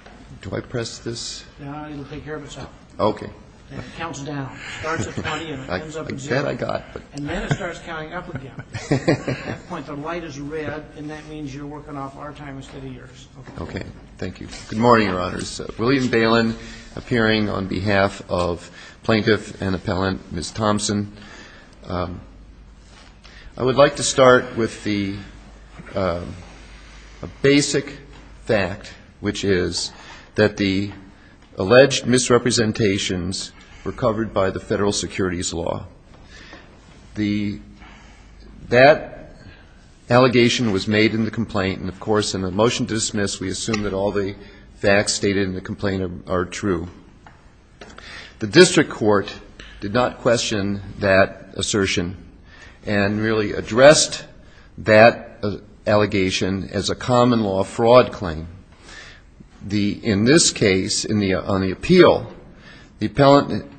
I would like to start with the basic fact, which is that the plaintiff's alleged misrepresentations were covered by the Federal Securities Law. That allegation was made in the complaint, and of course, in the motion to dismiss, we assume that all the facts stated in the complaint are true. The District Court did not question that assertion and merely addressed that allegation as a common law fraud claim. The District Court in this case, on the appeal, the appellant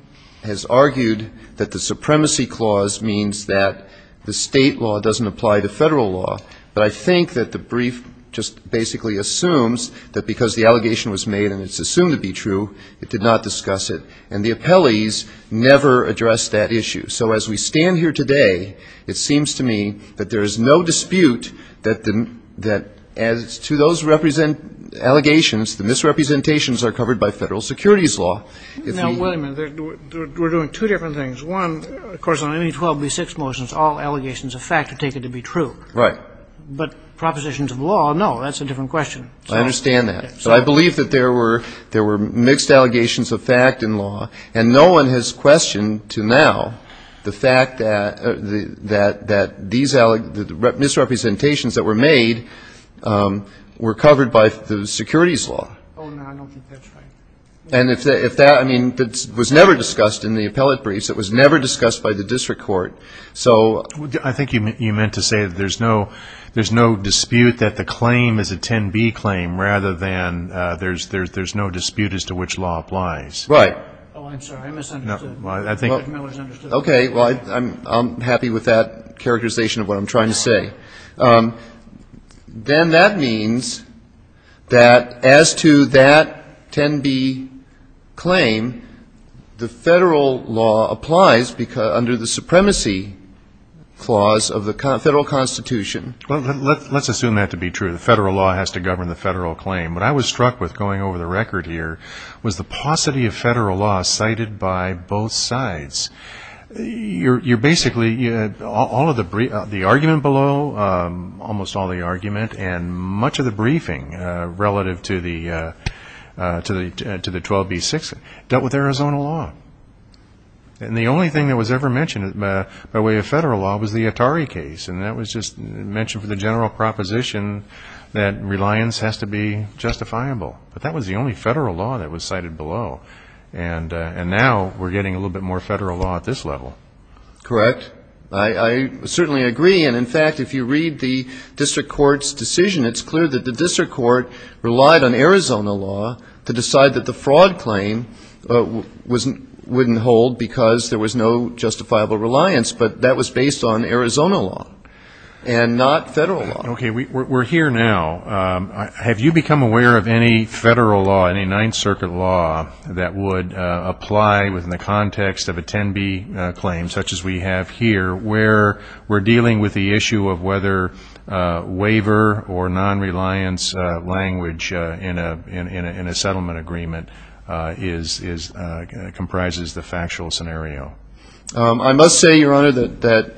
has argued that the supremacy clause means that the state law doesn't apply to Federal law. But I think that the brief just basically assumes that because the allegation was made and it's assumed to be true, it did not discuss it. And the appellees never addressed that issue. So as we stand here today, it seems to me that there is no dispute that as to those allegations, the misrepresentations are covered by Federal Securities Law. Now, wait a minute. We're doing two different things. One, of course, on ME-12B6 motions, all allegations of fact are taken to be true. Right. But propositions of law, no, that's a different question. I understand that. But I believe that there were mixed allegations of fact in law, and no one has questioned to now the fact that these misrepresentations that were made were covered by the Securities Law. Oh, no, I don't think that's right. And if that, I mean, it was never discussed in the appellate briefs. It was never discussed by the District Court. So ‑‑ I think you meant to say that there's no dispute that the claim is a 10B claim rather than there's no dispute as to which law applies. Right. Oh, I'm sorry. I misunderstood. No. Well, I think ‑‑ Judge Miller's understood. Okay. Well, I'm happy with that characterization of what I'm trying to say. Then that means that as to that 10B claim, the Federal law applies under the Supremacy Clause of the Federal Constitution. Let's assume that to be true. The Federal law has to govern the Federal claim. What I was struck with, going over the record here, was the paucity of Federal law cited by both sides. You're basically, all of the ‑‑ the argument below, almost all the argument and much of the briefing relative to the 12B6 dealt with Arizona law. And the only thing that was ever mentioned by way of Federal law was the Atari case, and that was justifiable. But that was the only Federal law that was cited below. And now we're getting a little bit more Federal law at this level. Correct. I certainly agree. And, in fact, if you read the district court's decision, it's clear that the district court relied on Arizona law to decide that the fraud claim wouldn't hold because there was no justifiable reliance. But that was based on Arizona law and not Federal law. Okay. We're here now. Have you become aware of any Federal law, any Ninth Circuit law that would apply within the context of a 10B claim, such as we have here, where we're dealing with the issue of whether waiver or nonreliance language in a settlement agreement is ‑‑ comprises the factual scenario? I must say, Your Honor, that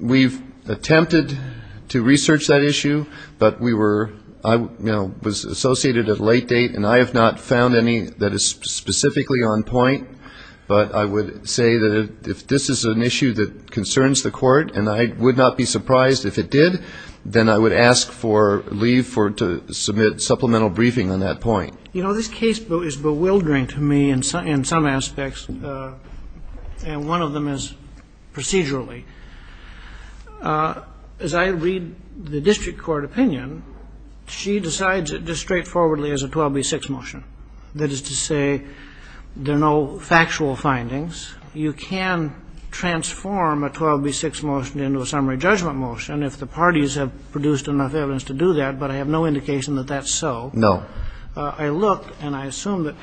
we've attempted to research that issue, but we were ‑‑ I was associated at a late date, and I have not found any that is specifically on point. But I would say that if this is an issue that concerns the court, and I would not be surprised if it did, then I would ask for leave to submit supplemental briefing on that point. You know, this case is bewildering to me in some aspects, and one of them is procedurally. As I read the district court opinion, she decides it just straightforwardly as a 12B6 motion. That is to say, there are no factual findings. You can transform a 12B6 motion into a summary judgment motion if the parties have produced enough evidence to do that, but I have no indication that that's so. No. I looked, and I assume that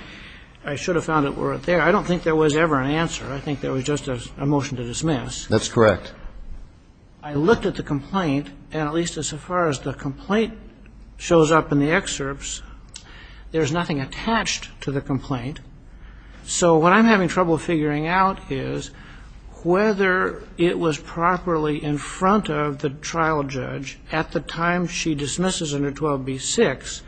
I should have found it there. I don't think there was ever an answer. I think there was just a motion to dismiss. That's correct. I looked at the complaint, and at least as far as the complaint shows up in the excerpts, there's nothing attached to the complaint. So what I'm having trouble figuring out is whether it was properly in front of the trial judge at the time she dismisses under 12B6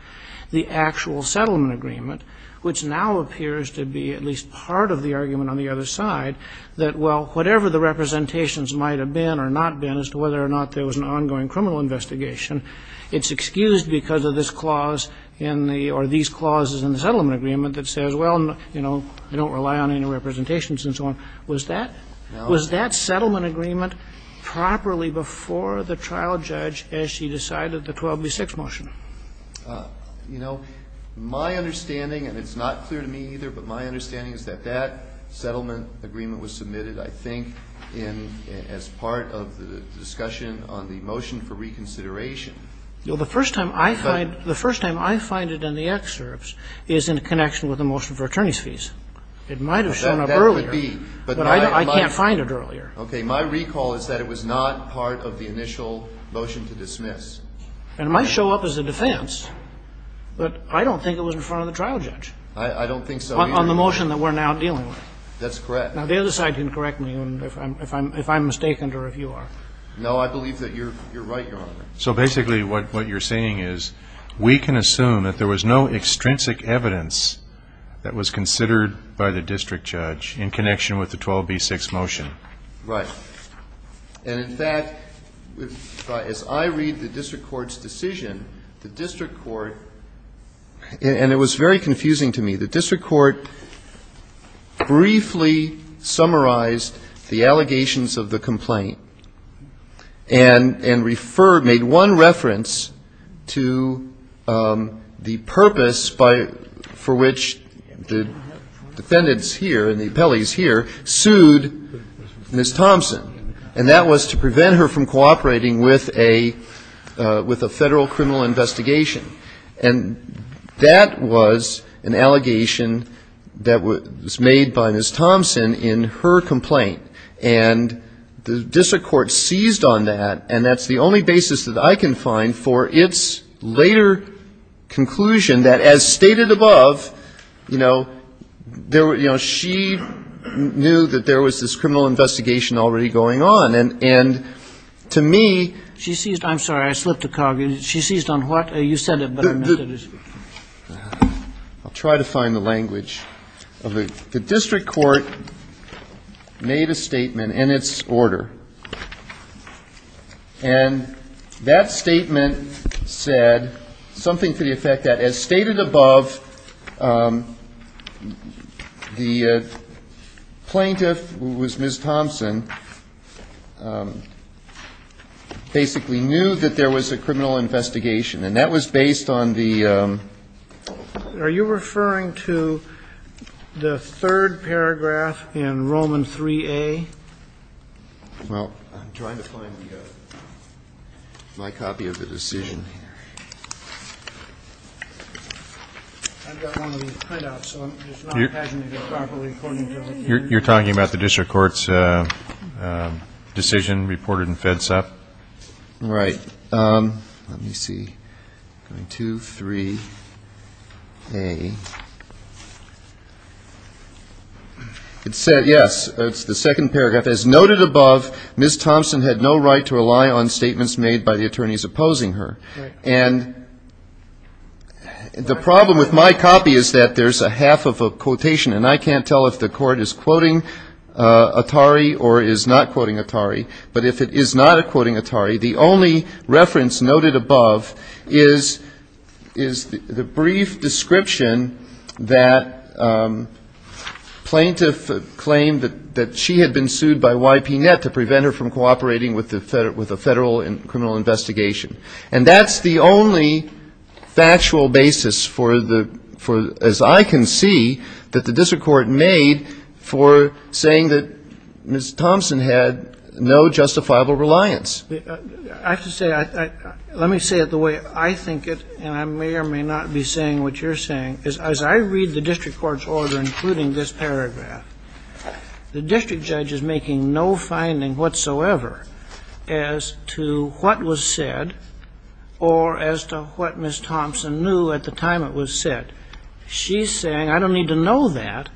the actual settlement agreement, which now appears to be at least part of the argument on the other side that, well, whatever the representations might have been or not been as to whether or not there was an ongoing criminal investigation, it's excused because of this clause in the or these clauses in the settlement agreement that says, well, you know, I don't rely on any representations and so on. Was that settlement agreement properly before the trial judge as she decided the 12B6 motion? You know, my understanding, and it's not clear to me either, but my understanding is that that settlement agreement was submitted, I think, as part of the discussion on the motion for reconsideration. Well, the first time I find it in the excerpts is in connection with the motion for attorney's fees. It might have shown up earlier, but I can't find it earlier. Okay. My recall is that it was not part of the initial motion to dismiss. And it might show up as a defense, but I don't think it was in front of the trial judge. I don't think so either. On the motion that we're now dealing with. That's correct. Now, the other side can correct me if I'm mistaken or if you are. No, I believe that you're right, Your Honor. So basically what you're saying is we can assume that there was no extrinsic evidence that was considered by the district judge in connection with the 12B6 motion. Right. And in fact, as I read the district court's decision, the district court – and it was very confusing to me – the district court briefly summarized the allegations of the complaint and referred – made one reference to the purpose by – for which the defendants here and the appellees here sued Ms. Thompson. And that was to prevent her from cooperating with a federal criminal investigation. And that was an allegation that was made by Ms. Thompson in her complaint. And the district court seized on that, and that's the only basis that I can find for its later conclusion, that as stated above, you know, there were – you know, she knew that there was this criminal investigation already going on. And to me – She seized – I'm sorry. I slipped the cog. She seized on what? You said it, but I missed it. I'll try to find the language. The district court made a statement, and it's order. And that statement said something to the effect that, as stated above, the plaintiff, who was Ms. Thompson, basically knew that there was a criminal investigation. And that was based on the – Third paragraph in Roman 3A. Well, I'm trying to find my copy of the decision here. I've got one of these printouts, so I'm just not paginating it properly according to what you're saying. You're talking about the district court's decision reported in Fed Sup? Right. Let me see. Going to 3A. It said, yes, it's the second paragraph. As noted above, Ms. Thompson had no right to rely on statements made by the attorneys opposing her. Right. And the problem with my copy is that there's a half of a quotation, and I can't tell if the court is quoting But if it is not quoting Atari, the only reference noted above is the brief description that plaintiff claimed that she had been sued by YPNet to prevent her from cooperating with a federal criminal investigation. And that's the only factual basis for the – as I can see, that the district court made for saying that Ms. Thompson had no justifiable reliance. I have to say, let me say it the way I think it, and I may or may not be saying what you're saying, is as I read the district court's order, including this paragraph, the district judge is making no finding whatsoever as to what was said or as to what Ms. Thompson knew at the time it was said. She's saying, I don't need to know that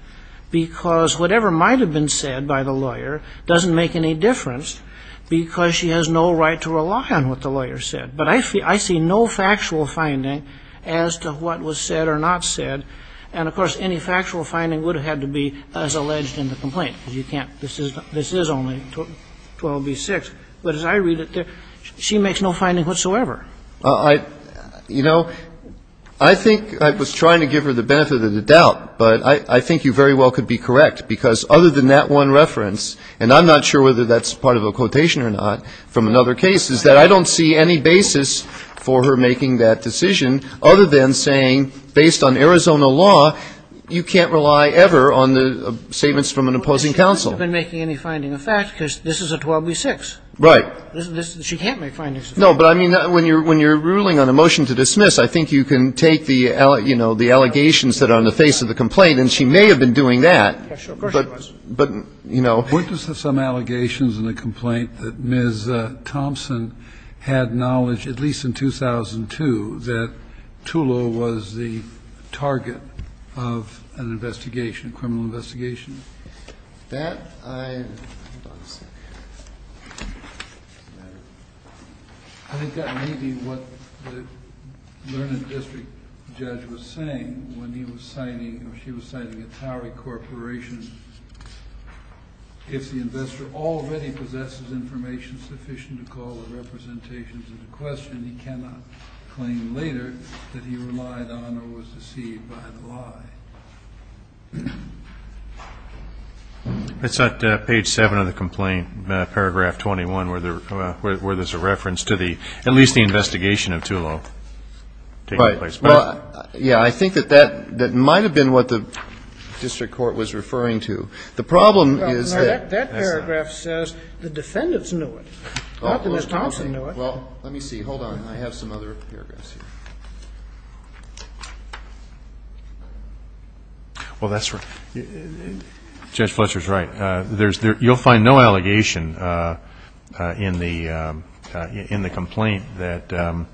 because whatever might have been said by the lawyer doesn't make any difference because she has no right to rely on what the lawyer said. But I see no factual finding as to what was said or not said. And, of course, any factual finding would have had to be as alleged in the complaint, because you can't – this is only 12b-6. But as I read it, she makes no finding whatsoever. Well, I – you know, I think I was trying to give her the benefit of the doubt, but I think you very well could be correct, because other than that one reference, and I'm not sure whether that's part of a quotation or not from another case, is that I don't see any basis for her making that decision other than saying, based on Arizona law, you can't rely ever on the statements from an opposing counsel. Well, she hasn't been making any finding of fact because this is a 12b-6. Right. She can't make findings of fact. No, but I mean, when you're ruling on a motion to dismiss, I think you can take the, you know, the allegations that are on the face of the complaint, and she may have been doing that, but, you know. Witnesses have some allegations in the complaint that Ms. Thompson had knowledge, at least in 2002, that TULO was the target of an investigation, a criminal investigation. That, I, hold on a second here. I think that may be what the Lerner District judge was saying when he was citing, or she was citing, a TOWER Corporation. If the investor already possesses information sufficient to call the representations into question, he cannot claim later that he relied on or was deceived by the lie. That's not page 7 of the complaint, paragraph 21, where there's a reference to the, at least the investigation of TULO taking place. Right. Well, yeah, I think that that might have been what the district court was referring to. The problem is that that paragraph says the defendants knew it, not that Ms. Thompson knew it. Well, let me see. Hold on. I have some other paragraphs here. Well, that's right. Judge Fletcher's right. You'll find no allegation in the complaint that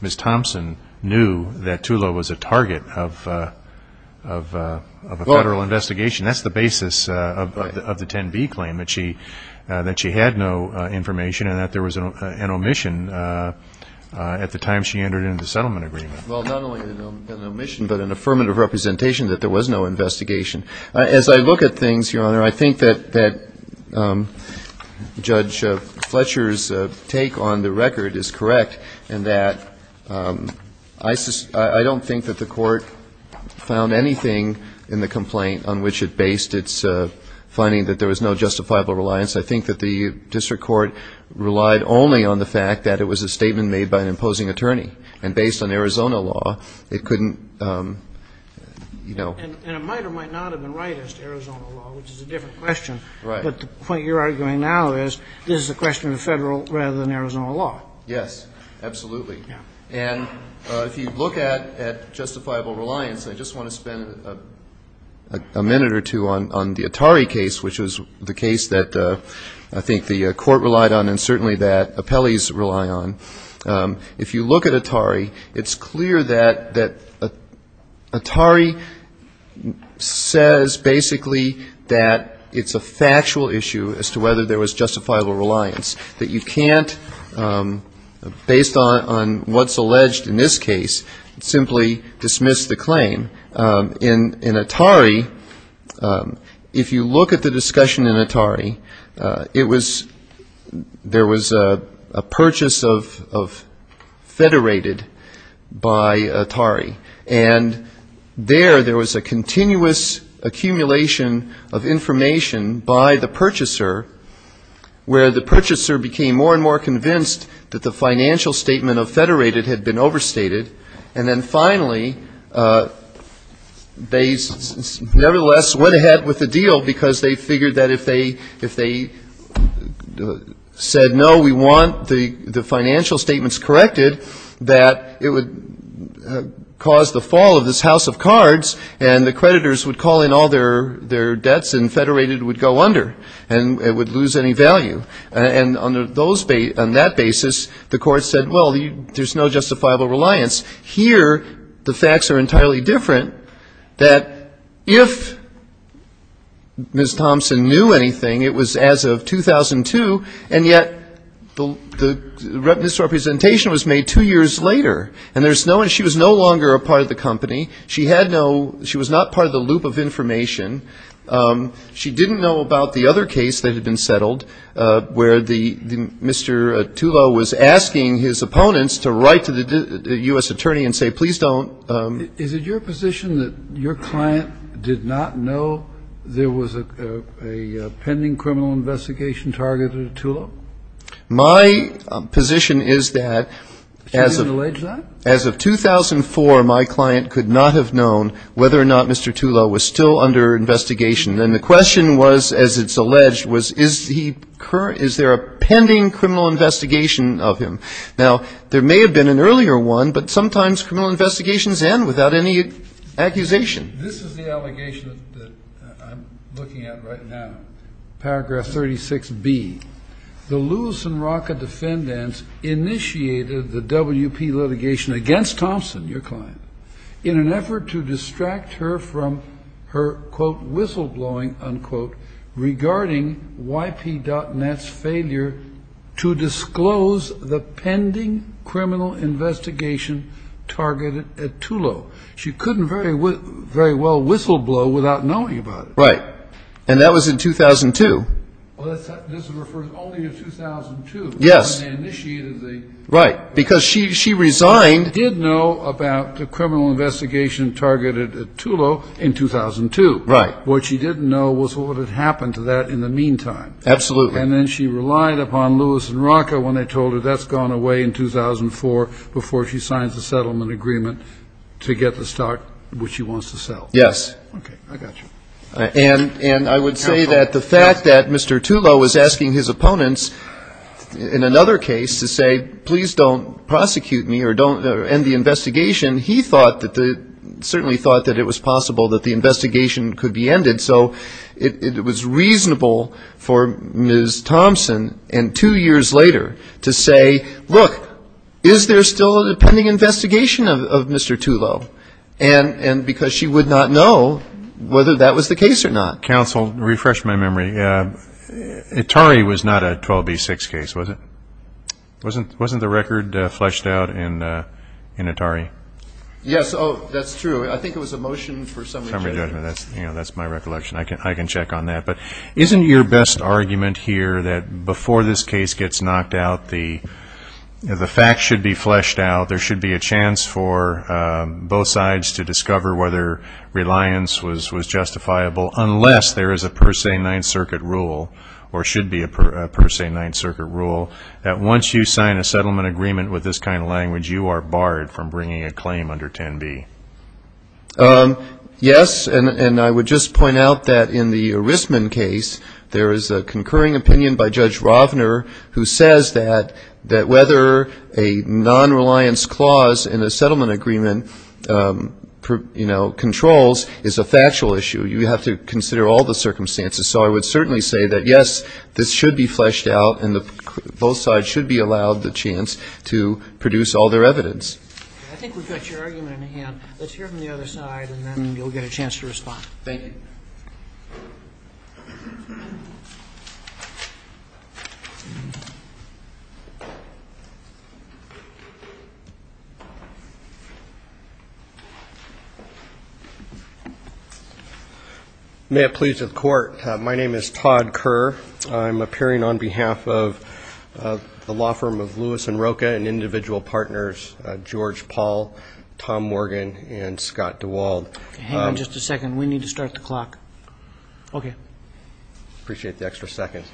Ms. Thompson knew that TULO was a target of a federal investigation. That's the basis of the 10B claim, that she had no information and that there was an omission at the time she entered into the settlement agreement. Well, not only an omission, but an affirmative representation that there was no investigation. As I look at things, Your Honor, I think that Judge Fletcher's take on the record is correct in that I don't think that the court found anything in the complaint on which it based its finding that there was no justifiable reliance. I think that the district court relied only on the fact that it was a statement made by an imposing attorney. And based on Arizona law, it couldn't, you know. And it might or might not have been right as to Arizona law, which is a different question. Right. But the point you're arguing now is this is a question of federal rather than Arizona law. Yes, absolutely. And if you look at justifiable reliance, I just want to spend a minute or two on the court relied on and certainly that appellees rely on, if you look at Atari, it's clear that Atari says basically that it's a factual issue as to whether there was justifiable reliance, that you can't, based on what's alleged in this case, simply dismiss the claim. In Atari, if you look at the discussion in Atari, there was a purchase of Federated by Atari, and there, there was a continuous accumulation of information by the purchaser where the purchaser became more and more convinced that the financial statement of Federated had been overstated. And then finally, they nevertheless went ahead with the deal because they figured that if they said, no, we want the financial statements corrected, that it would cause the fall of this house of cards and the creditors would call in all their debts and Federated would go under and it would lose any value. And on that basis, the court said, well, there's no justifiable reliance. Here, the facts are entirely different, that if Ms. Thompson knew anything, it was as of 2002, and yet the misrepresentation was made two years later, and she was no longer a part of the company. She had no, she was not part of the loop of information. She didn't know about the other case that had been settled where the, Mr. Tullo was asking his opponents to write to the U.S. attorney and say, please don't. Is it your position that your client did not know there was a pending criminal investigation targeted at Tullo? My position is that as of 2004, my client could not have known whether or not Mr. Tullo was still under investigation. And the question was, as it's alleged, is there a pending criminal investigation of him? Now, there may have been an earlier one, but sometimes criminal investigations end without any accusation. This is the allegation that I'm looking at right now, paragraph 36B. The Lewis and Rocca defendants initiated the WP litigation against Thompson, your client, in an effort to distract her from her, quote, whistleblowing, unquote, regarding YP.net's failure to disclose the pending criminal investigation targeted at Tullo. She couldn't very well whistleblow without knowing about it. Right. And that was in 2002. Well, this refers only to 2002. Yes. Right. Because she resigned. And she did know about the criminal investigation targeted at Tullo in 2002. Right. What she didn't know was what had happened to that in the meantime. Absolutely. And then she relied upon Lewis and Rocca when they told her that's gone away in 2004 before she signs the settlement agreement to get the stock which she wants to sell. Yes. Okay. I got you. And I would say that the fact that Mr. Tullo was asking his opponents in another case to say, please don't prosecute me or end the investigation, he thought that the, certainly thought that it was possible that the investigation could be ended. So it was reasonable for Ms. Thompson and two years later to say, look, is there still a pending investigation of Mr. Tullo? And because she would not know whether that was the case or not. Counsel, refresh my memory. Atari was not a 12B6 case, was it? Wasn't the record fleshed out in Atari? Yes. Oh, that's true. I think it was a motion for summary judgment. Summary judgment. That's my recollection. I can check on that. But isn't your best argument here that before this case gets knocked out, the fact should be fleshed out, there should be a chance for both sides to discover whether reliance was justifiable unless there is a per se Ninth Circuit rule or should be a per se Ninth Circuit rule that once you sign a settlement agreement with this kind of language, you are barred from bringing a claim under 10B? Yes. And I would just point out that in the Erisman case, there is a concurring opinion by Judge Rovner who says that whether a non-reliance clause in a settlement agreement controls is a factual issue. You have to consider all the circumstances. So I would certainly say that, yes, this should be fleshed out and both sides should be allowed the chance to produce all their evidence. I think we've got your argument in the hand. Let's hear from the other side and then you'll get a chance to respond. Thank you. May it please the Court. My name is Todd Kerr. I'm appearing on behalf of the law firm of Lewis & Rocha and individual partners, George Paul, Tom Morgan and Scott DeWald. Hang on just a second. We need to start the clock. Okay. Appreciate the extra seconds.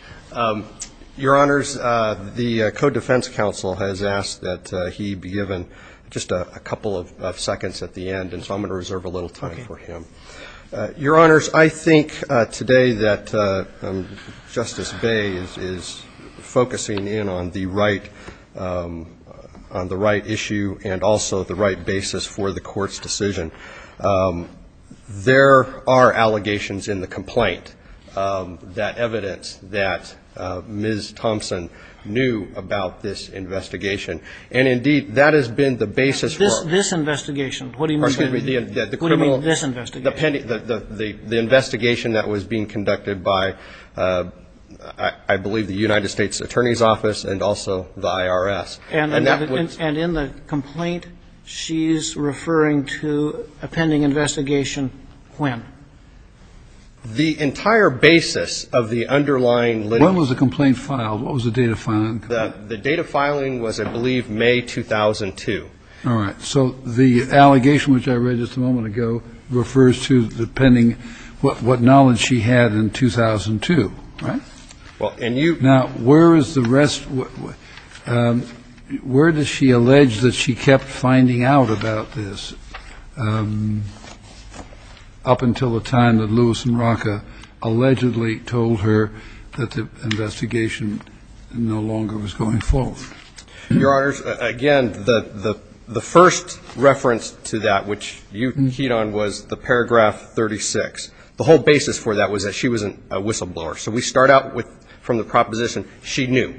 Your Honors, the Code Defense Counsel has asked that he be given just a couple of seconds at the end and so I'm going to reserve a little time for him. Your Honors, I think today that Justice Baye is focusing in on the right issue and also the right basis for the Court's decision. There are allegations in the complaint that evidence that Ms. Thompson knew about this investigation. And, indeed, that has been the basis for this investigation. What do you mean this investigation? The investigation that was being conducted by, I believe, the United States Attorney's Office and also the IRS. And in the complaint she's referring to a pending investigation when? The entire basis of the underlying litigation. When was the complaint filed? What was the date of filing? The date of filing was, I believe, May 2002. All right. So the allegation, which I read just a moment ago, refers to the pending, what knowledge she had in 2002, right? Now, where is the rest? Where does she allege that she kept finding out about this up until the time that Lewis & Rocha allegedly told her that the investigation no longer existed? Your Honors, again, the first reference to that, which you keyed on, was the paragraph 36. The whole basis for that was that she wasn't a whistleblower. So we start out with, from the proposition, she knew.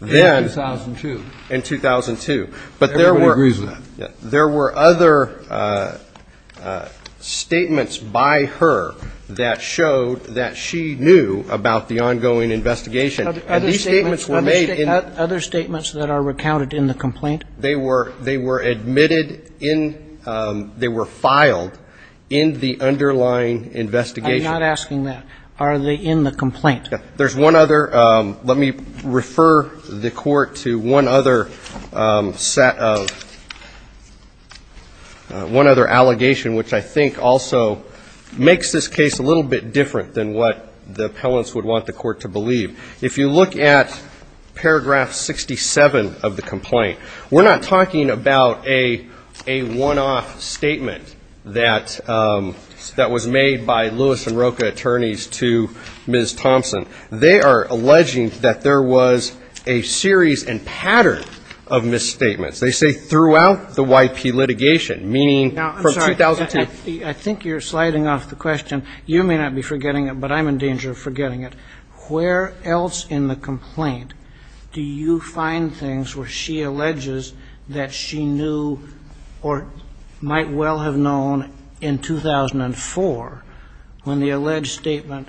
In 2002. In 2002. Everybody agrees with that. There were other statements by her that showed that she knew about the ongoing investigation. Other statements that are recounted in the complaint? They were admitted in, they were filed in the underlying investigation. I'm not asking that. Are they in the complaint? There's one other, let me refer the court to one other set of, one other allegation, which I think also makes this case a little bit different than what the appellants would want the court to believe. If you look at paragraph 67 of the complaint, we're not talking about a one-off statement that was made by Lewis & Rocha attorneys to Ms. Thompson. They are alleging that there was a series and pattern of misstatements. They say throughout the Y.P. litigation, meaning from 2002. Now, I'm sorry. I think you're sliding off the question. You may not be forgetting it, but I'm in danger of forgetting it. Where else in the complaint do you find things where she alleges that she knew or might well have known in 2004, when the alleged statement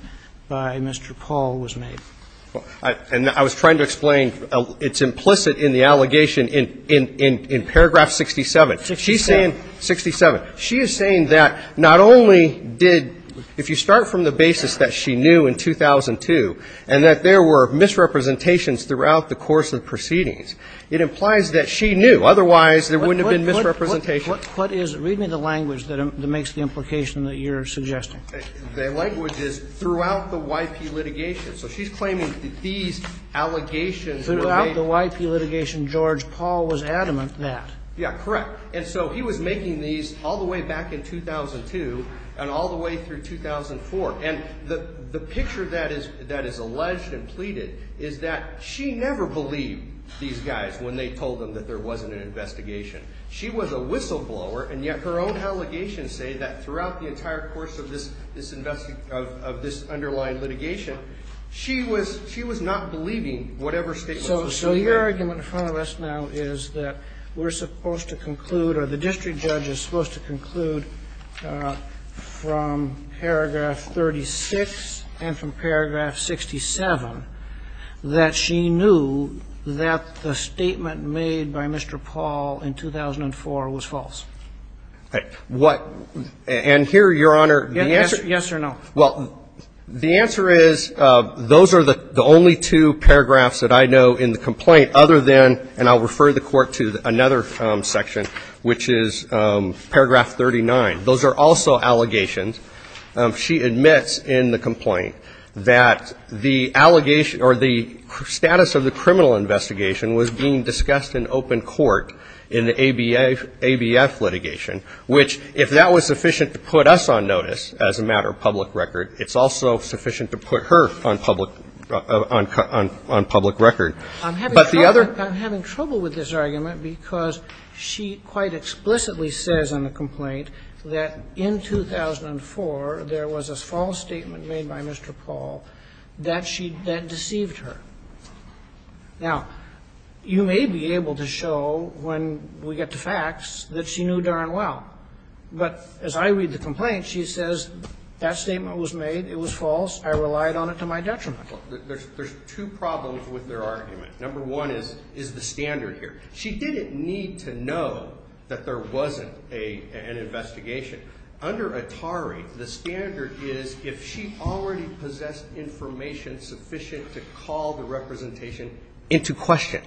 by Mr. Paul Lewis & Rocha attorneys was made? And I was trying to explain it's implicit in the allegation in paragraph 67. 67. 67. She is saying that not only did, if you start from the basis that she knew in 2002 and that there were misrepresentations throughout the course of the proceedings, it implies that she knew. Otherwise, there wouldn't have been misrepresentations. What is, read me the language that makes the implication that you're suggesting. The language is throughout the Y.P. litigation. So she's claiming that these allegations were made. Throughout the Y.P. litigation, George Paul was adamant that. Yeah, correct. And so he was making these all the way back in 2002 and all the way through 2004. And the picture that is alleged and pleaded is that she never believed these guys when they told them that there wasn't an investigation. She was a whistleblower, and yet her own allegations say that throughout the entire course of this underlying litigation, she was not believing whatever statements were made. So your argument in front of us now is that we're supposed to conclude, or the district judge is supposed to conclude, from paragraph 37. And from paragraph 67, that she knew that the statement made by Mr. Paul in 2004 was false. And here, Your Honor, the answer. Yes or no. Well, the answer is, those are the only two paragraphs that I know in the complaint other than, and I'll refer the Court to another section, which is paragraph 39. Those are also allegations. She admits in the complaint that the allegation or the status of the criminal investigation was being discussed in open court in the ABF litigation, which, if that was sufficient to put us on notice as a matter of public record, it's also sufficient to put her on public record. I'm having trouble with this argument because she quite explicitly says on the complaint, that in 2004, there was a false statement made by Mr. Paul that she, that deceived her. Now, you may be able to show, when we get to facts, that she knew darn well. But as I read the complaint, she says, that statement was made, it was false, I relied on it to my detriment. There's two problems with their argument. Number one is, is the standard here. She didn't need to know that there wasn't an investigation. Under ATARI, the standard is, if she already possessed information sufficient to call the representation into question.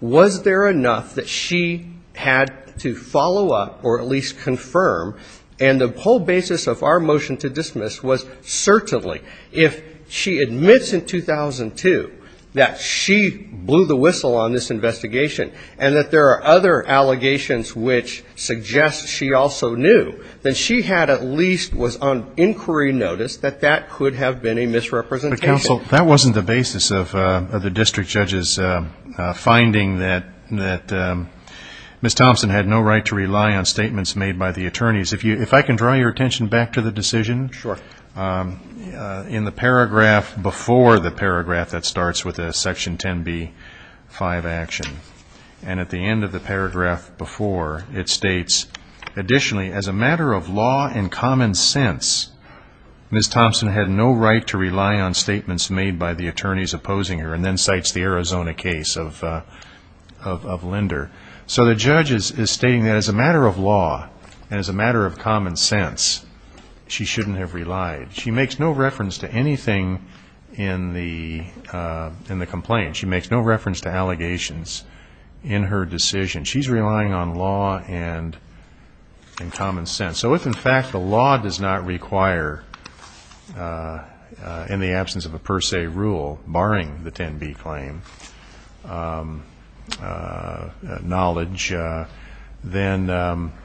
Was there enough that she had to follow up or at least confirm, and the whole basis of our motion to dismiss was, certainly, if she admits in 2002 that she blew the whistle on this investigation and that there are other allegations which suggest she also knew, then she had at least was on inquiry notice that that could have been a misrepresentation. But, counsel, that wasn't the basis of the district judge's finding that Ms. Thompson had no right to rely on statements made by the attorneys opposing her, and then cites the Arizona case of Linder. So the judge is stating that as a matter of law and as a matter of common sense, she shouldn't have relied. She makes no reference to anything in the complaint. She makes no reference to allegations in her decision. She's relying on law and common sense. So if, in fact, the law does not require, in the absence of a per se rule barring the 10B claim, knowledge,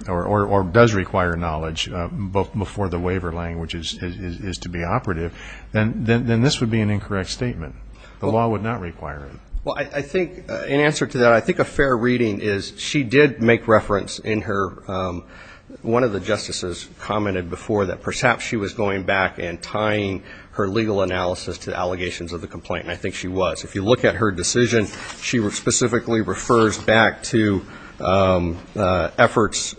or does require knowledge, both before the waiver language is to be operative, then this would be an incorrect statement. The law would not require it. Well, I think, in answer to that, I think a fair reading is she did make reference in her, one of the justices commented before that perhaps she was going back and tying her legal analysis to the allegations of the complaint, and I think she was. If you look at her decision, she specifically refers back to efforts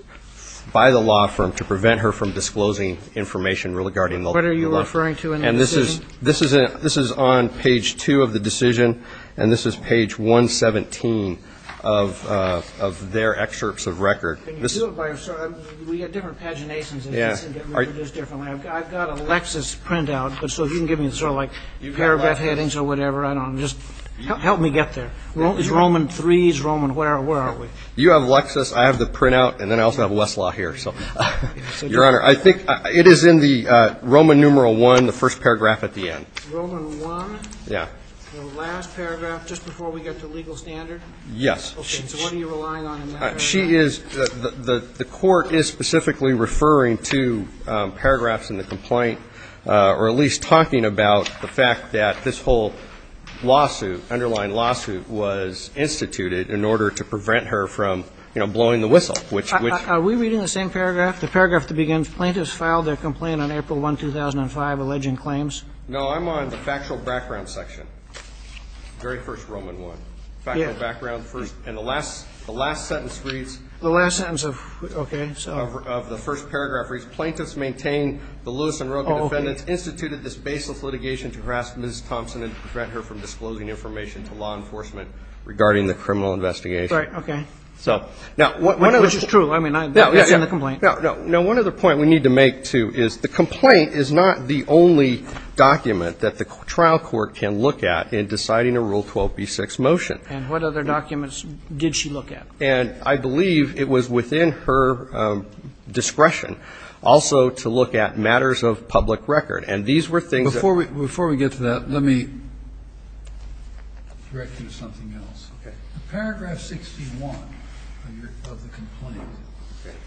by the law firm to prevent her from going back and preventing her from disclosing information regarding the law. And this is on page 2 of the decision, and this is page 117 of their excerpts of record. We have different paginations. I've got a Lexis printout, so if you can give me sort of like parabet headings or whatever, I don't know. Just help me get there. Is Roman 3, is Roman, where are we? You have Lexis, I have the printout, and then I also have Westlaw here. Your Honor, I think it is in the Roman numeral 1, the first paragraph at the end. Roman 1, the last paragraph just before we get to legal standard? Yes. Okay, so what are you relying on in that regard? The court is specifically referring to paragraphs in the complaint, or at least talking about the fact that this whole lawsuit, underlying lawsuit, was instituted in order to prevent her from blowing the whistle. Are we reading the same paragraph? No, I'm on the factual background section, very first Roman 1. Factual background, and the last sentence reads, of the first paragraph, plaintiffs maintain the Lewis and Rogan defendants instituted this baseless litigation to harass Ms. Thompson and prevent her from disclosing information to law enforcement regarding the criminal investigation. Right, okay. Which is true, I mean, it's in the complaint. Now, one other point we need to make, too, is the complaint is not the only document that the trial court can look at in deciding a Rule 12b-6 motion. And what other documents did she look at? And I believe it was within her discretion also to look at matters of public record. And these were things that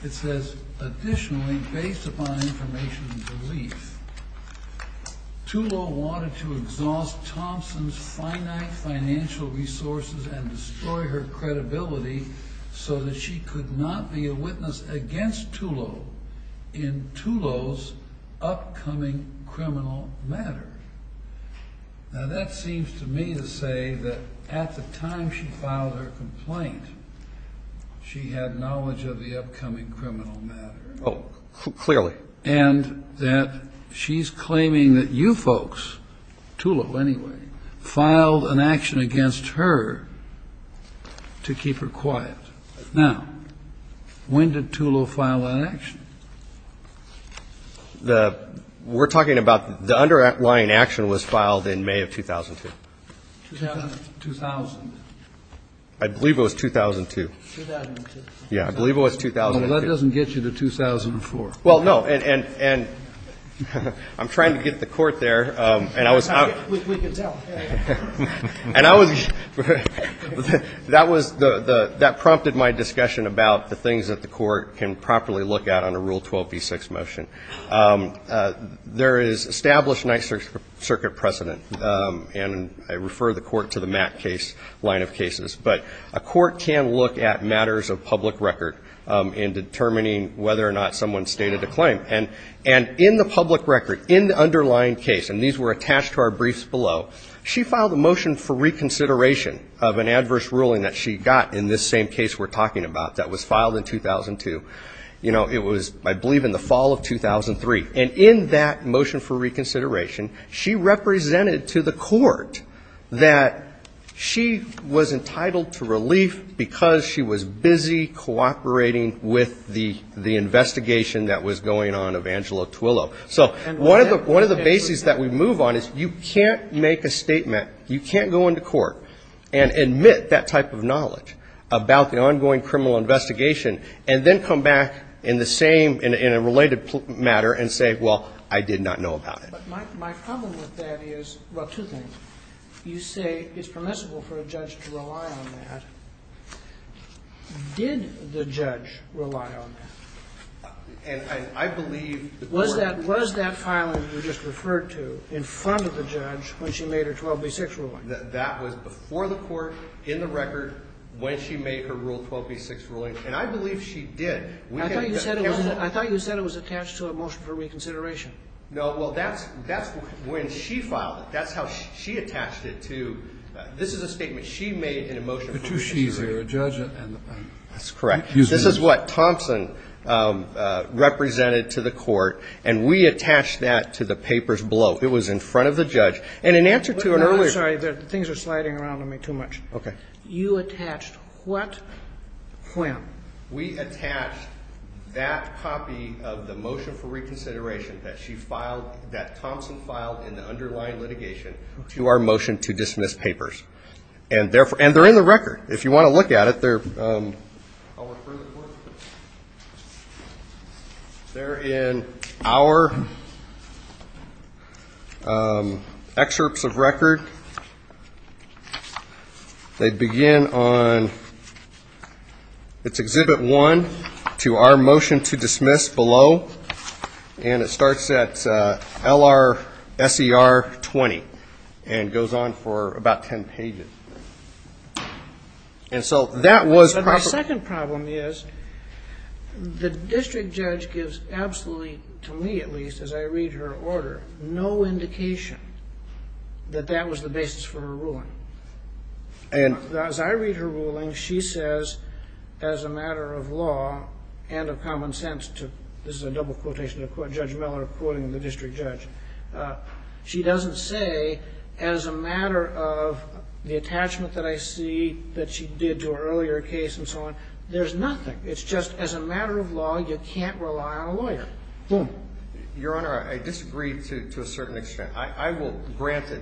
---- additionally, based upon information and belief, Tullow wanted to exhaust Thompson's finite financial resources and destroy her credibility so that she could not be a witness against Tullow in Tullow's upcoming criminal matter. Now, that seems to me to say that at the time she filed her complaint, she had knowledge of the upcoming criminal matter. Oh, clearly. And that she's claiming that you folks, Tullow anyway, filed an action against her to keep her quiet. Now, when did Tullow file that action? The ---- we're talking about the underlying action was filed in May of 2002. 2000. I believe it was 2002. 2002. Yeah, I believe it was 2002. Well, that doesn't get you to 2004. Well, no, and I'm trying to get the Court there, and I was ---- We can tell. And I was ---- that was the ---- that prompted my discussion about the things that the Court can properly look at on a Rule 12b-6 motion. There is established Ninth Circuit precedent, and I refer the Court to the Mack case, but a Court can look at matters of public record in determining whether or not someone stated a claim. And in the public record, in the underlying case, and these were attached to our briefs below, she filed a motion for reconsideration of an adverse ruling that she got in this same case we're talking about that was filed in 2002. You know, it was, I believe, in the fall of 2003. And in that motion for reconsideration, she represented to the Court that she was entitled to relief because she was busy cooperating with the investigation that was going on of Angelo Twillow. So one of the bases that we move on is you can't make a statement, you can't go into court and admit that type of knowledge about the ongoing criminal investigation, and then come back in the same, in a related matter, and say, well, I did not know about it. But my problem with that is, well, two things. You say it's permissible for a judge to rely on that. Did the judge rely on that? And I believe the Court was that filing you just referred to in front of the judge when she made her 12b-6 ruling. That was before the Court, in the record, when she made her Rule 12b-6 ruling. And I believe she did. I thought you said it was attached to a motion for reconsideration. No, well, that's when she filed it. That's how she attached it to. This is a statement she made in a motion for reconsideration. That's correct. This is what Thompson represented to the Court, and we attached that to the papers below. It was in front of the judge, and in answer to an earlier... I'm sorry, things are sliding around on me too much. Okay. You attached what? When? We attached that copy of the motion for reconsideration that Thompson filed in the underlying litigation to our motion to dismiss papers. And they're in the record. If you want to look at it, they're... They're in our excerpts of record. They begin on... It's Exhibit 1 to our motion to dismiss below, and it starts at L-R-S-E-R 20 and goes on for about 10 pages. And so that was... That was the basis for her ruling. And as I read her ruling, she says, as a matter of law and of common sense to... This is a double quotation of Judge Miller quoting the district judge. She doesn't say, as a matter of the attachment that I see that she did to her earlier case and so on. There's nothing. It's just, as a matter of law, you can't rely on a lawyer. Your Honor, I disagree to a certain extent. I will grant that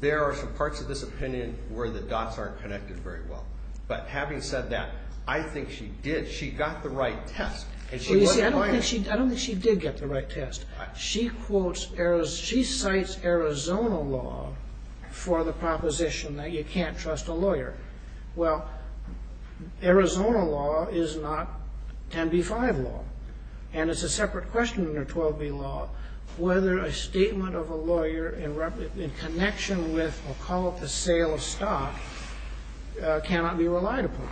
there are some parts of this opinion where the dots aren't connected very well. But having said that, I think she did. She got the right test. I don't think she did get the right test. She quotes... She cites Arizona law for the proposition that you can't trust a lawyer. Well, Arizona law is not 10b-5 law. And it's a separate question under 12b law whether a statement of a lawyer in connection with, I'll call it the sale of stock, cannot be relied upon.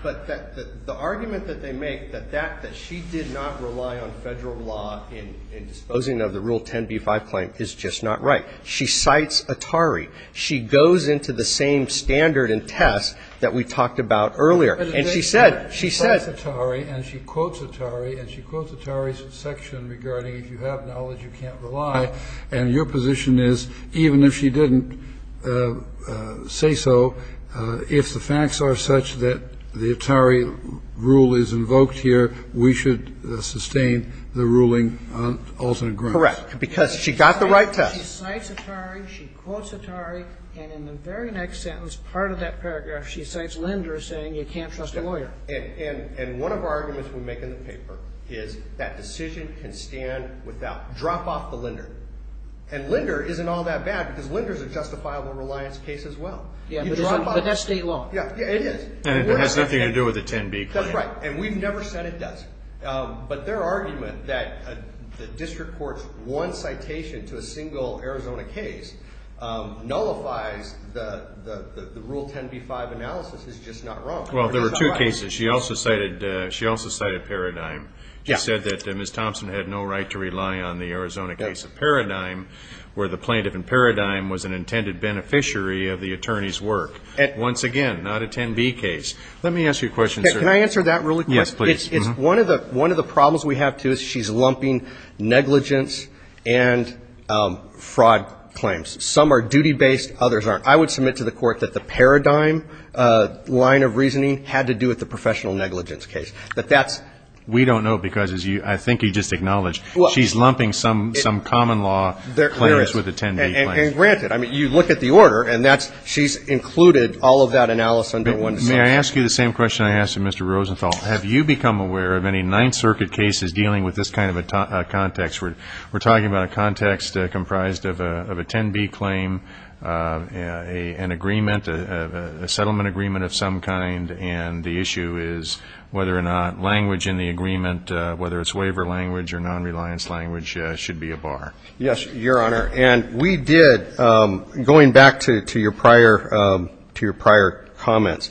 But the argument that they make, that she did not rely on Federal law in disposing of the Rule 10b-5 claim, is just not right. She cites Atari. She goes into the same standard and test that we talked about earlier. And she said, she said... She cites Atari and she quotes Atari and she quotes Atari's section regarding if you have knowledge, you can't rely. And your position is, even if she didn't say so, if the facts are such that the Atari rule is invoked here, we should sustain the ruling on alternate grounds. Correct. Because she got the right test. She cites Atari. She quotes Atari. And in the very next sentence, part of that paragraph, she cites Linder saying you can't trust a lawyer. And one of our arguments we make in the paper is that decision can stand without... Drop off the Linder. And Linder isn't all that bad because Linder is a justifiable reliance case as well. But that's state law. Yeah, it is. And it has nothing to do with the 10b claim. That's right. And we've never said it doesn't. But their argument that the district court's one citation to a single Arizona case nullifies the Rule 10b-5 analysis is just not wrong. Well, there were two cases. She also cited Paradigm. She said that Ms. Thompson had no right to rely on the Arizona case of Paradigm where the plaintiff in Paradigm was an intended beneficiary of the attorney's work. Once again, not a 10b case. Let me ask you a question, sir. Can I answer that really quick? Yes, please. It's one of the problems we have, too, is she's lumping negligence and fraud claims. Some are duty-based, others aren't. I would submit to the court that the Paradigm line of reasoning had to do with the professional negligence case. But that's... We don't know because, as I think you just acknowledged, she's lumping some common law claims with a 10b claim. And granted, I mean, you look at the order, and she's included all of that analysis under one... May I ask you the same question I asked of Mr. Rosenthal? Have you become aware of any Ninth Circuit cases dealing with this kind of a context? We're talking about a context comprised of a 10b claim, an agreement, a settlement agreement of some kind, and the issue is whether or not language in the agreement, whether it's waiver language or non-reliance language, should be a bar. Yes, Your Honor. And we did, going back to your prior comments,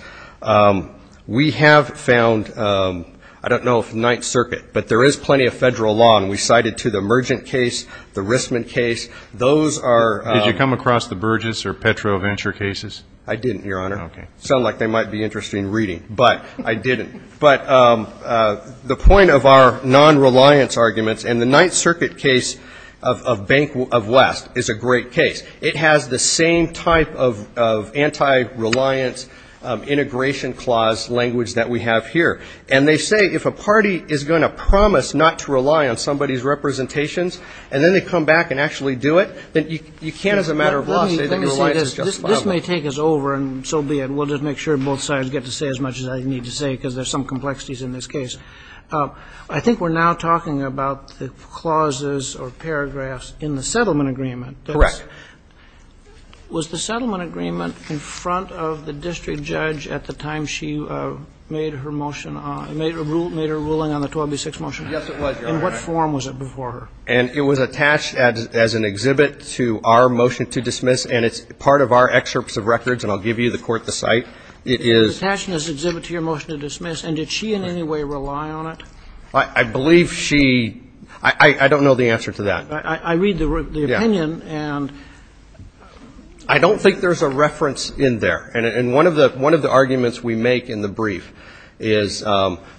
we have found, I don't know if Ninth Circuit, but there is plenty of Federal law, and we cited to the Mergent case, the Rissman case. Those are... Did you come across the Burgess or Petro Venture cases? I didn't, Your Honor. Okay. Sounded like they might be interesting reading, but I didn't. But the point of our non-reliance arguments, and the Ninth Circuit case of Bank of West is a great case. It has the same type of anti-reliance integration clause language that we have here. And they say if a party is going to promise not to rely on somebody's representations, and then they come back and actually do it, then you can't, as a matter of law, say that your reliance is justifiable. Let me say this. This may take us over, and so be it. We'll just make sure both sides get to say as much as I need to say, because there's some complexities in this case. I think we're now talking about the clauses or paragraphs in the settlement agreement. Correct. Was the settlement agreement in front of the district judge at the time she made her motion on, made her ruling on the 12B6 motion? Yes, it was, Your Honor. In what form was it before her? And it was attached as an exhibit to our motion to dismiss, and it's part of our excerpts of records, and I'll give you, the Court, the site. It is attached as an exhibit to your motion to dismiss. And did she in any way rely on it? I believe she – I don't know the answer to that. I read the opinion, and – I don't think there's a reference in there. And one of the arguments we make in the brief is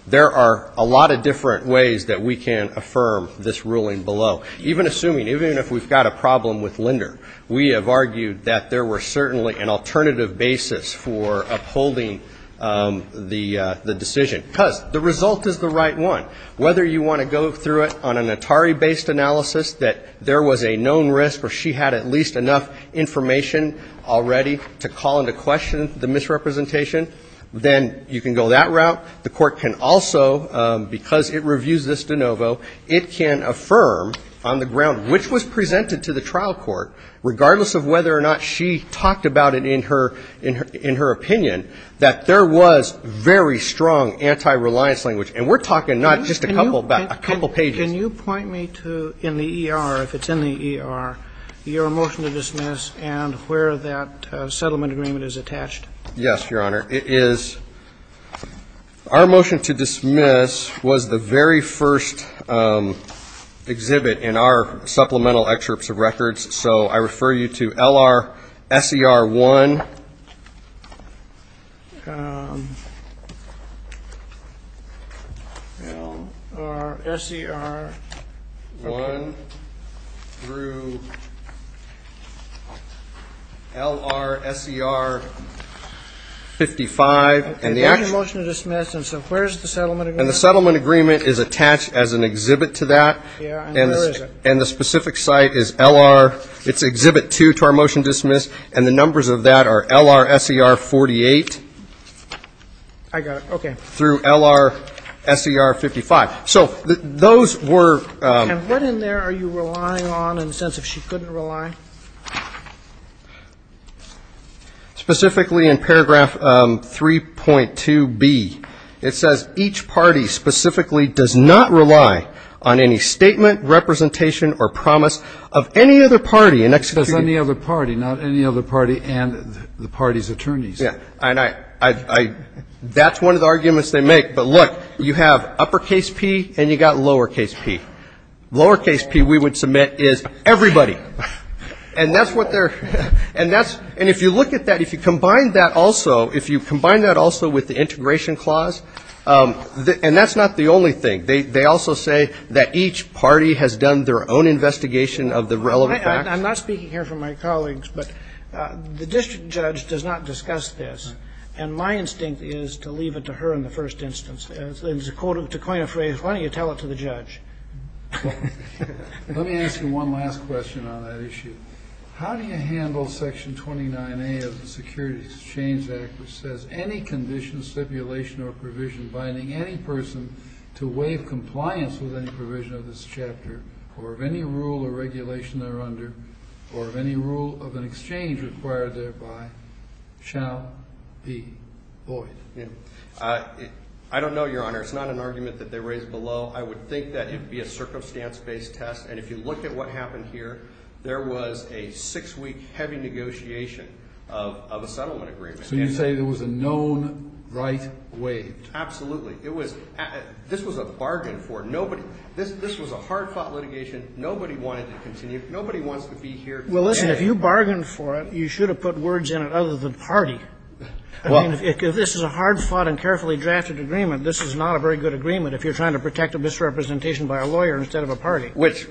there are a lot of different ways that we can affirm this ruling below. Even assuming, even if we've got a problem with Linder, we have argued that there were certainly an alternative basis for upholding the decision. Because the result is the right one. Whether you want to go through it on an Atari-based analysis that there was a known risk or she had at least enough information already to call into question the misrepresentation, then you can go that route. The Court can also, because it reviews this de novo, it can affirm on the ground, which was presented to the trial court, regardless of whether or not she talked about it in her opinion, that there was very strong anti-reliance language. And we're talking not just a couple, but a couple pages. Can you point me to, in the ER, if it's in the ER, your motion to dismiss and where that settlement agreement is attached? Yes, Your Honor. It is, our motion to dismiss was the very first exhibit in our supplemental excerpts of records. So I refer you to LR-SER 1. LR-SER 1 through LR-SER 55. Okay, thank you, motion to dismiss. And so where is the settlement agreement? And the settlement agreement is attached as an exhibit to that. Yeah, and where is it? And the specific site is LR, it's exhibit 2 to our motion to dismiss, and the numbers of that are LR-SER 48. I got it. Okay. Through LR-SER 55. So those were. And what in there are you relying on in the sense of she couldn't rely? Specifically in paragraph 3.2b, it says, each party specifically does not rely on any statement, representation, or promise of any other party. There's any other party, not any other party and the party's attorneys. Yeah. And I, that's one of the arguments they make. But look, you have uppercase P and you've got lowercase P. Lowercase P we would submit is everybody. And that's what they're, and that's, and if you look at that, if you combine that also, if you combine that also with the integration clause, and that's not the only thing. They also say that each party has done their own investigation of the relevant facts. I'm not speaking here for my colleagues, but the district judge does not discuss this. And my instinct is to leave it to her in the first instance. To coin a phrase, why don't you tell it to the judge? Let me ask you one last question on that issue. How do you handle section 29A of the Security Exchange Act which says, any condition, stipulation, or provision binding any person to waive compliance with any provision of this chapter or of any rule or regulation they're under or of any rule of an exchange required thereby shall be void. I don't know, Your Honor. It's not an argument that they raised below. I would think that it would be a circumstance-based test. And if you look at what happened here, there was a six-week heavy negotiation of a settlement agreement. So you say there was a known right waived. Absolutely. It was, this was a bargain for nobody. This was a hard-fought litigation. Nobody wanted to continue. Nobody wants to be here today. Well, listen, if you bargained for it, you should have put words in it other than party. I mean, if this is a hard-fought and carefully drafted agreement, this is not a very good agreement if you're trying to protect a misrepresentation by a lawyer instead of a party. Which,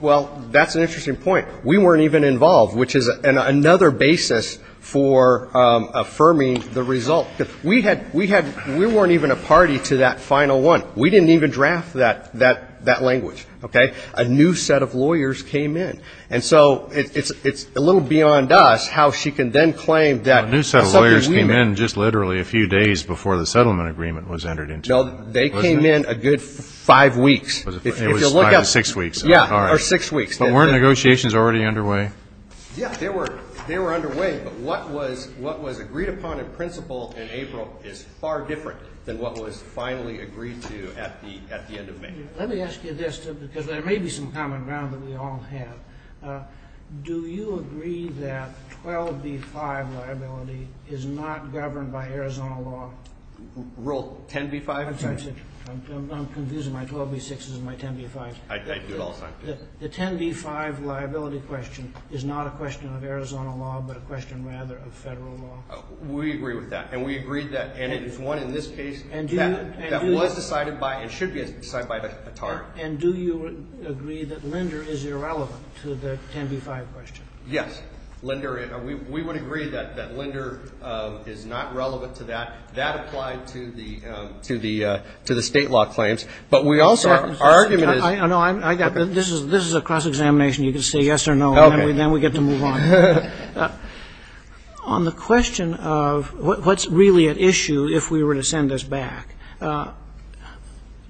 well, that's an interesting point. We weren't even involved, which is another basis for affirming the result. We had, we weren't even a party to that final one. We didn't even draft that language, okay? A new set of lawyers came in. And so it's a little beyond us how she can then claim that a settlement agreement. A new set of lawyers came in just literally a few days before the settlement agreement was entered into. No, they came in a good five weeks. It was five or six weeks. Yeah, or six weeks. But weren't negotiations already underway? Yeah, they were underway. But what was agreed upon in principle in April is far different than what was finally agreed to at the end of May. Let me ask you this, because there may be some common ground that we all have. Do you agree that 12B-5 liability is not governed by Arizona law? Rule 10B-5? I'm confused. My 12B-6 is in my 10B-5. I do it all the time. The 10B-5 liability question is not a question of Arizona law, but a question rather of Federal law. We agree with that. And we agreed that. And it is one in this case that was decided by and should be decided by the TARP. And do you agree that Linder is irrelevant to the 10B-5 question? Yes. Linder, we would agree that Linder is not relevant to that. That applied to the State law claims. But we also argued that it is. I know. This is a cross-examination. You can say yes or no, and then we get to move on. On the question of what's really at issue if we were to send this back,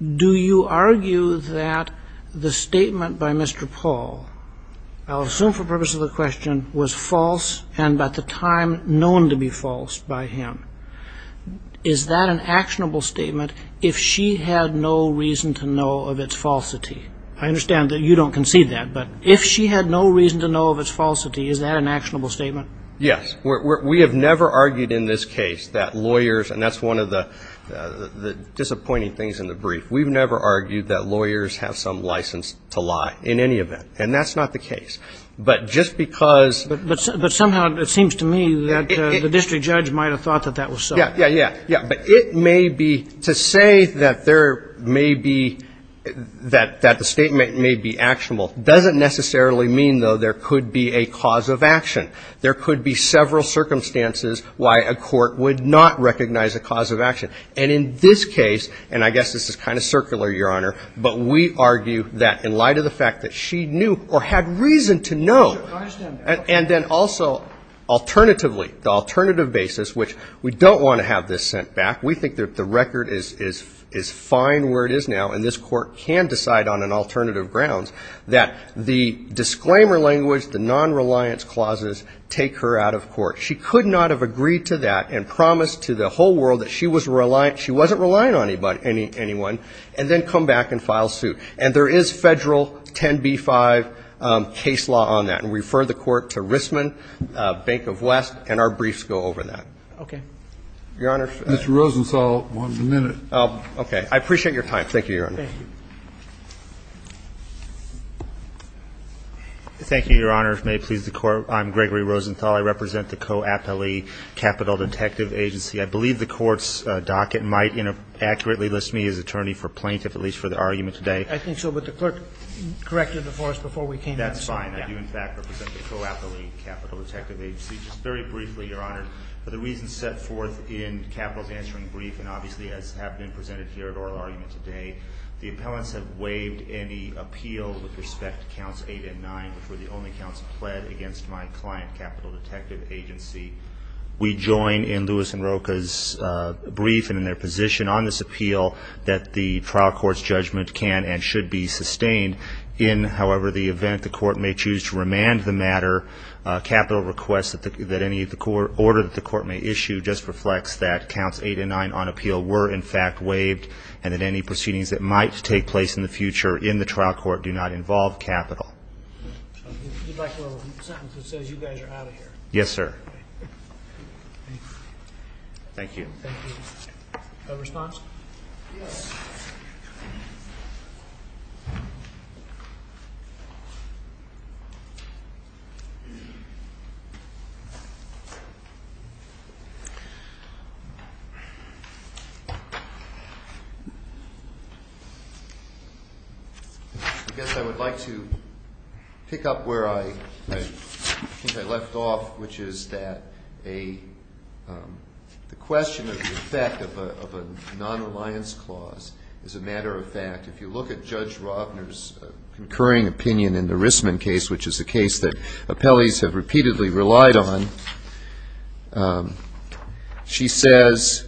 do you argue that the statement by Mr. Paul, I'll assume for the purpose of the question, was false and at the time known to be false by him? Is that an actionable statement if she had no reason to know of its falsity? I understand that you don't concede that. But if she had no reason to know of its falsity, is that an actionable statement? Yes. We have never argued in this case that lawyers, and that's one of the disappointing things in the brief, we've never argued that lawyers have some license to lie in any event. And that's not the case. But just because. But somehow it seems to me that the district judge might have thought that that was so. Yeah, yeah, yeah. But it may be, to say that there may be, that the statement may be actionable doesn't necessarily mean, though, there could be a cause of action. There could be several circumstances why a court would not recognize a cause of action. And in this case, and I guess this is kind of circular, Your Honor, but we argue that in light of the fact that she knew or had reason to know. I understand that. And then also, alternatively, the alternative basis, which we don't want to have this sent back, we think that the record is fine where it is now and this Court can decide on an alternative grounds, that the disclaimer language, the nonreliance clauses take her out of court. She could not have agreed to that and promised to the whole world that she was reliant, she wasn't relying on anyone, and then come back and file suit. And there is Federal 10b-5 case law on that. And we refer the Court to Rissman, Bank of West, and our briefs go over that. Okay. Your Honor. Mr. Rosenthal, one minute. Okay. I appreciate your time. Thank you, Your Honor. Thank you. Thank you, Your Honor. May it please the Court. I'm Gregory Rosenthal. I represent the co-appellee Capital Detective Agency. I believe the Court's docket might accurately list me as attorney for plaintiff, at least for the argument today. I think so, but the clerk corrected it for us before we came in. That's fine. I do, in fact, represent the co-appellee Capital Detective Agency. Just very briefly, Your Honor, for the reasons set forth in Capital's answering brief, and obviously as have been presented here at oral argument today, the appellants have waived any appeal with respect to Counts 8 and 9 which were the only counts pled against my client, Capital Detective Agency. We join in Lewis and Rocha's brief and in their position on this appeal that the trial court's judgment can and should be sustained in, however, the event the court may choose to remand the matter. Capital requests that any order that the court may issue just reflects that Counts 8 and 9 on appeal were, in fact, waived, and that any proceedings that might take place in the future in the trial court do not involve Capital. I'd like a little sentence that says you guys are out of here. Yes, sir. Thank you. Thank you. A response? Yes. I guess I would like to pick up where I think I left off, which is that the question of the effect of a non-reliance clause is a matter of fact. If you look at Judge Robner's concurring opinion in the Rissman case, which is a case that appellees have repeatedly relied on, she says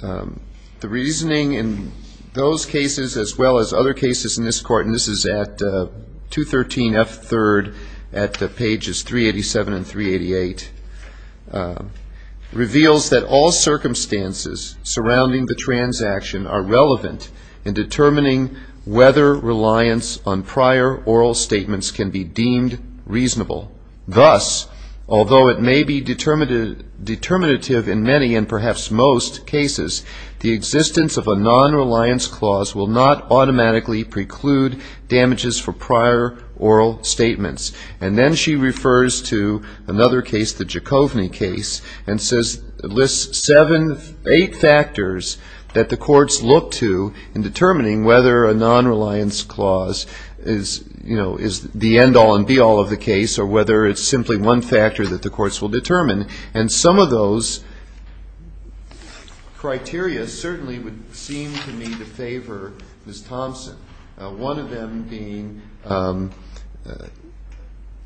the reasoning in those cases as well as other cases in this court, and this is at 213F3rd at pages 387 and 388, reveals that all circumstances surrounding the transaction are relevant in determining whether reliance on prior oral statements can be deemed reasonable. Thus, although it may be determinative in many and perhaps most cases, the existence of a non-reliance clause will not automatically preclude damages for prior oral statements. And then she refers to another case, the Giacovini case, and lists seven, eight factors that the courts look to in determining whether a non-reliance clause is, you know, is the end-all and be-all of the case or whether it's simply one factor that the courts will determine. And some of those criteria certainly would seem to me to favor Ms. Thompson, one of them being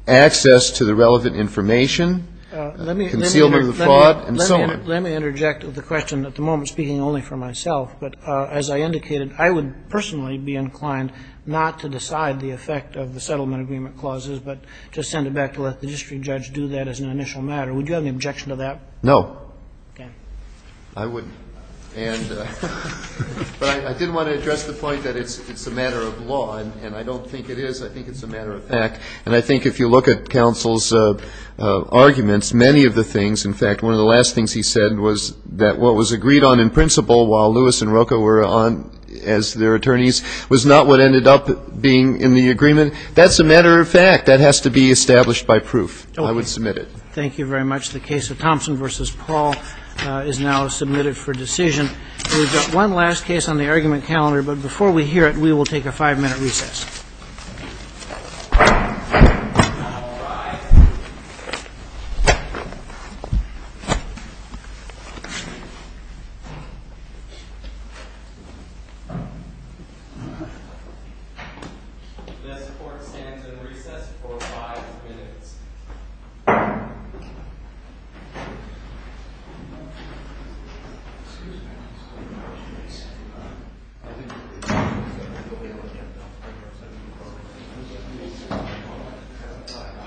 access to the relevant information, concealment of the fraud, and so on. Let me interject with a question. At the moment, speaking only for myself, but as I indicated, I would personally be inclined not to decide the effect of the settlement agreement clauses but to send it back to let the district judge do that as an initial matter. Would you have an objection to that? No. Okay. I wouldn't. And but I didn't want to address the point that it's a matter of law, and I don't think it is. I think it's a matter of fact. And I think if you look at counsel's arguments, many of the things, in fact, one of the last things he said was that what was agreed on in principle while Lewis and Rocco were on as their attorneys was not what ended up being in the agreement. That's a matter of fact. That has to be established by proof. I would submit it. Thank you very much. The case of Thompson v. Paul is now submitted for decision. We've got one last case on the argument calendar. But before we hear it, we will take a five-minute recess. All rise. This court stands in recess for five minutes. Five minutes.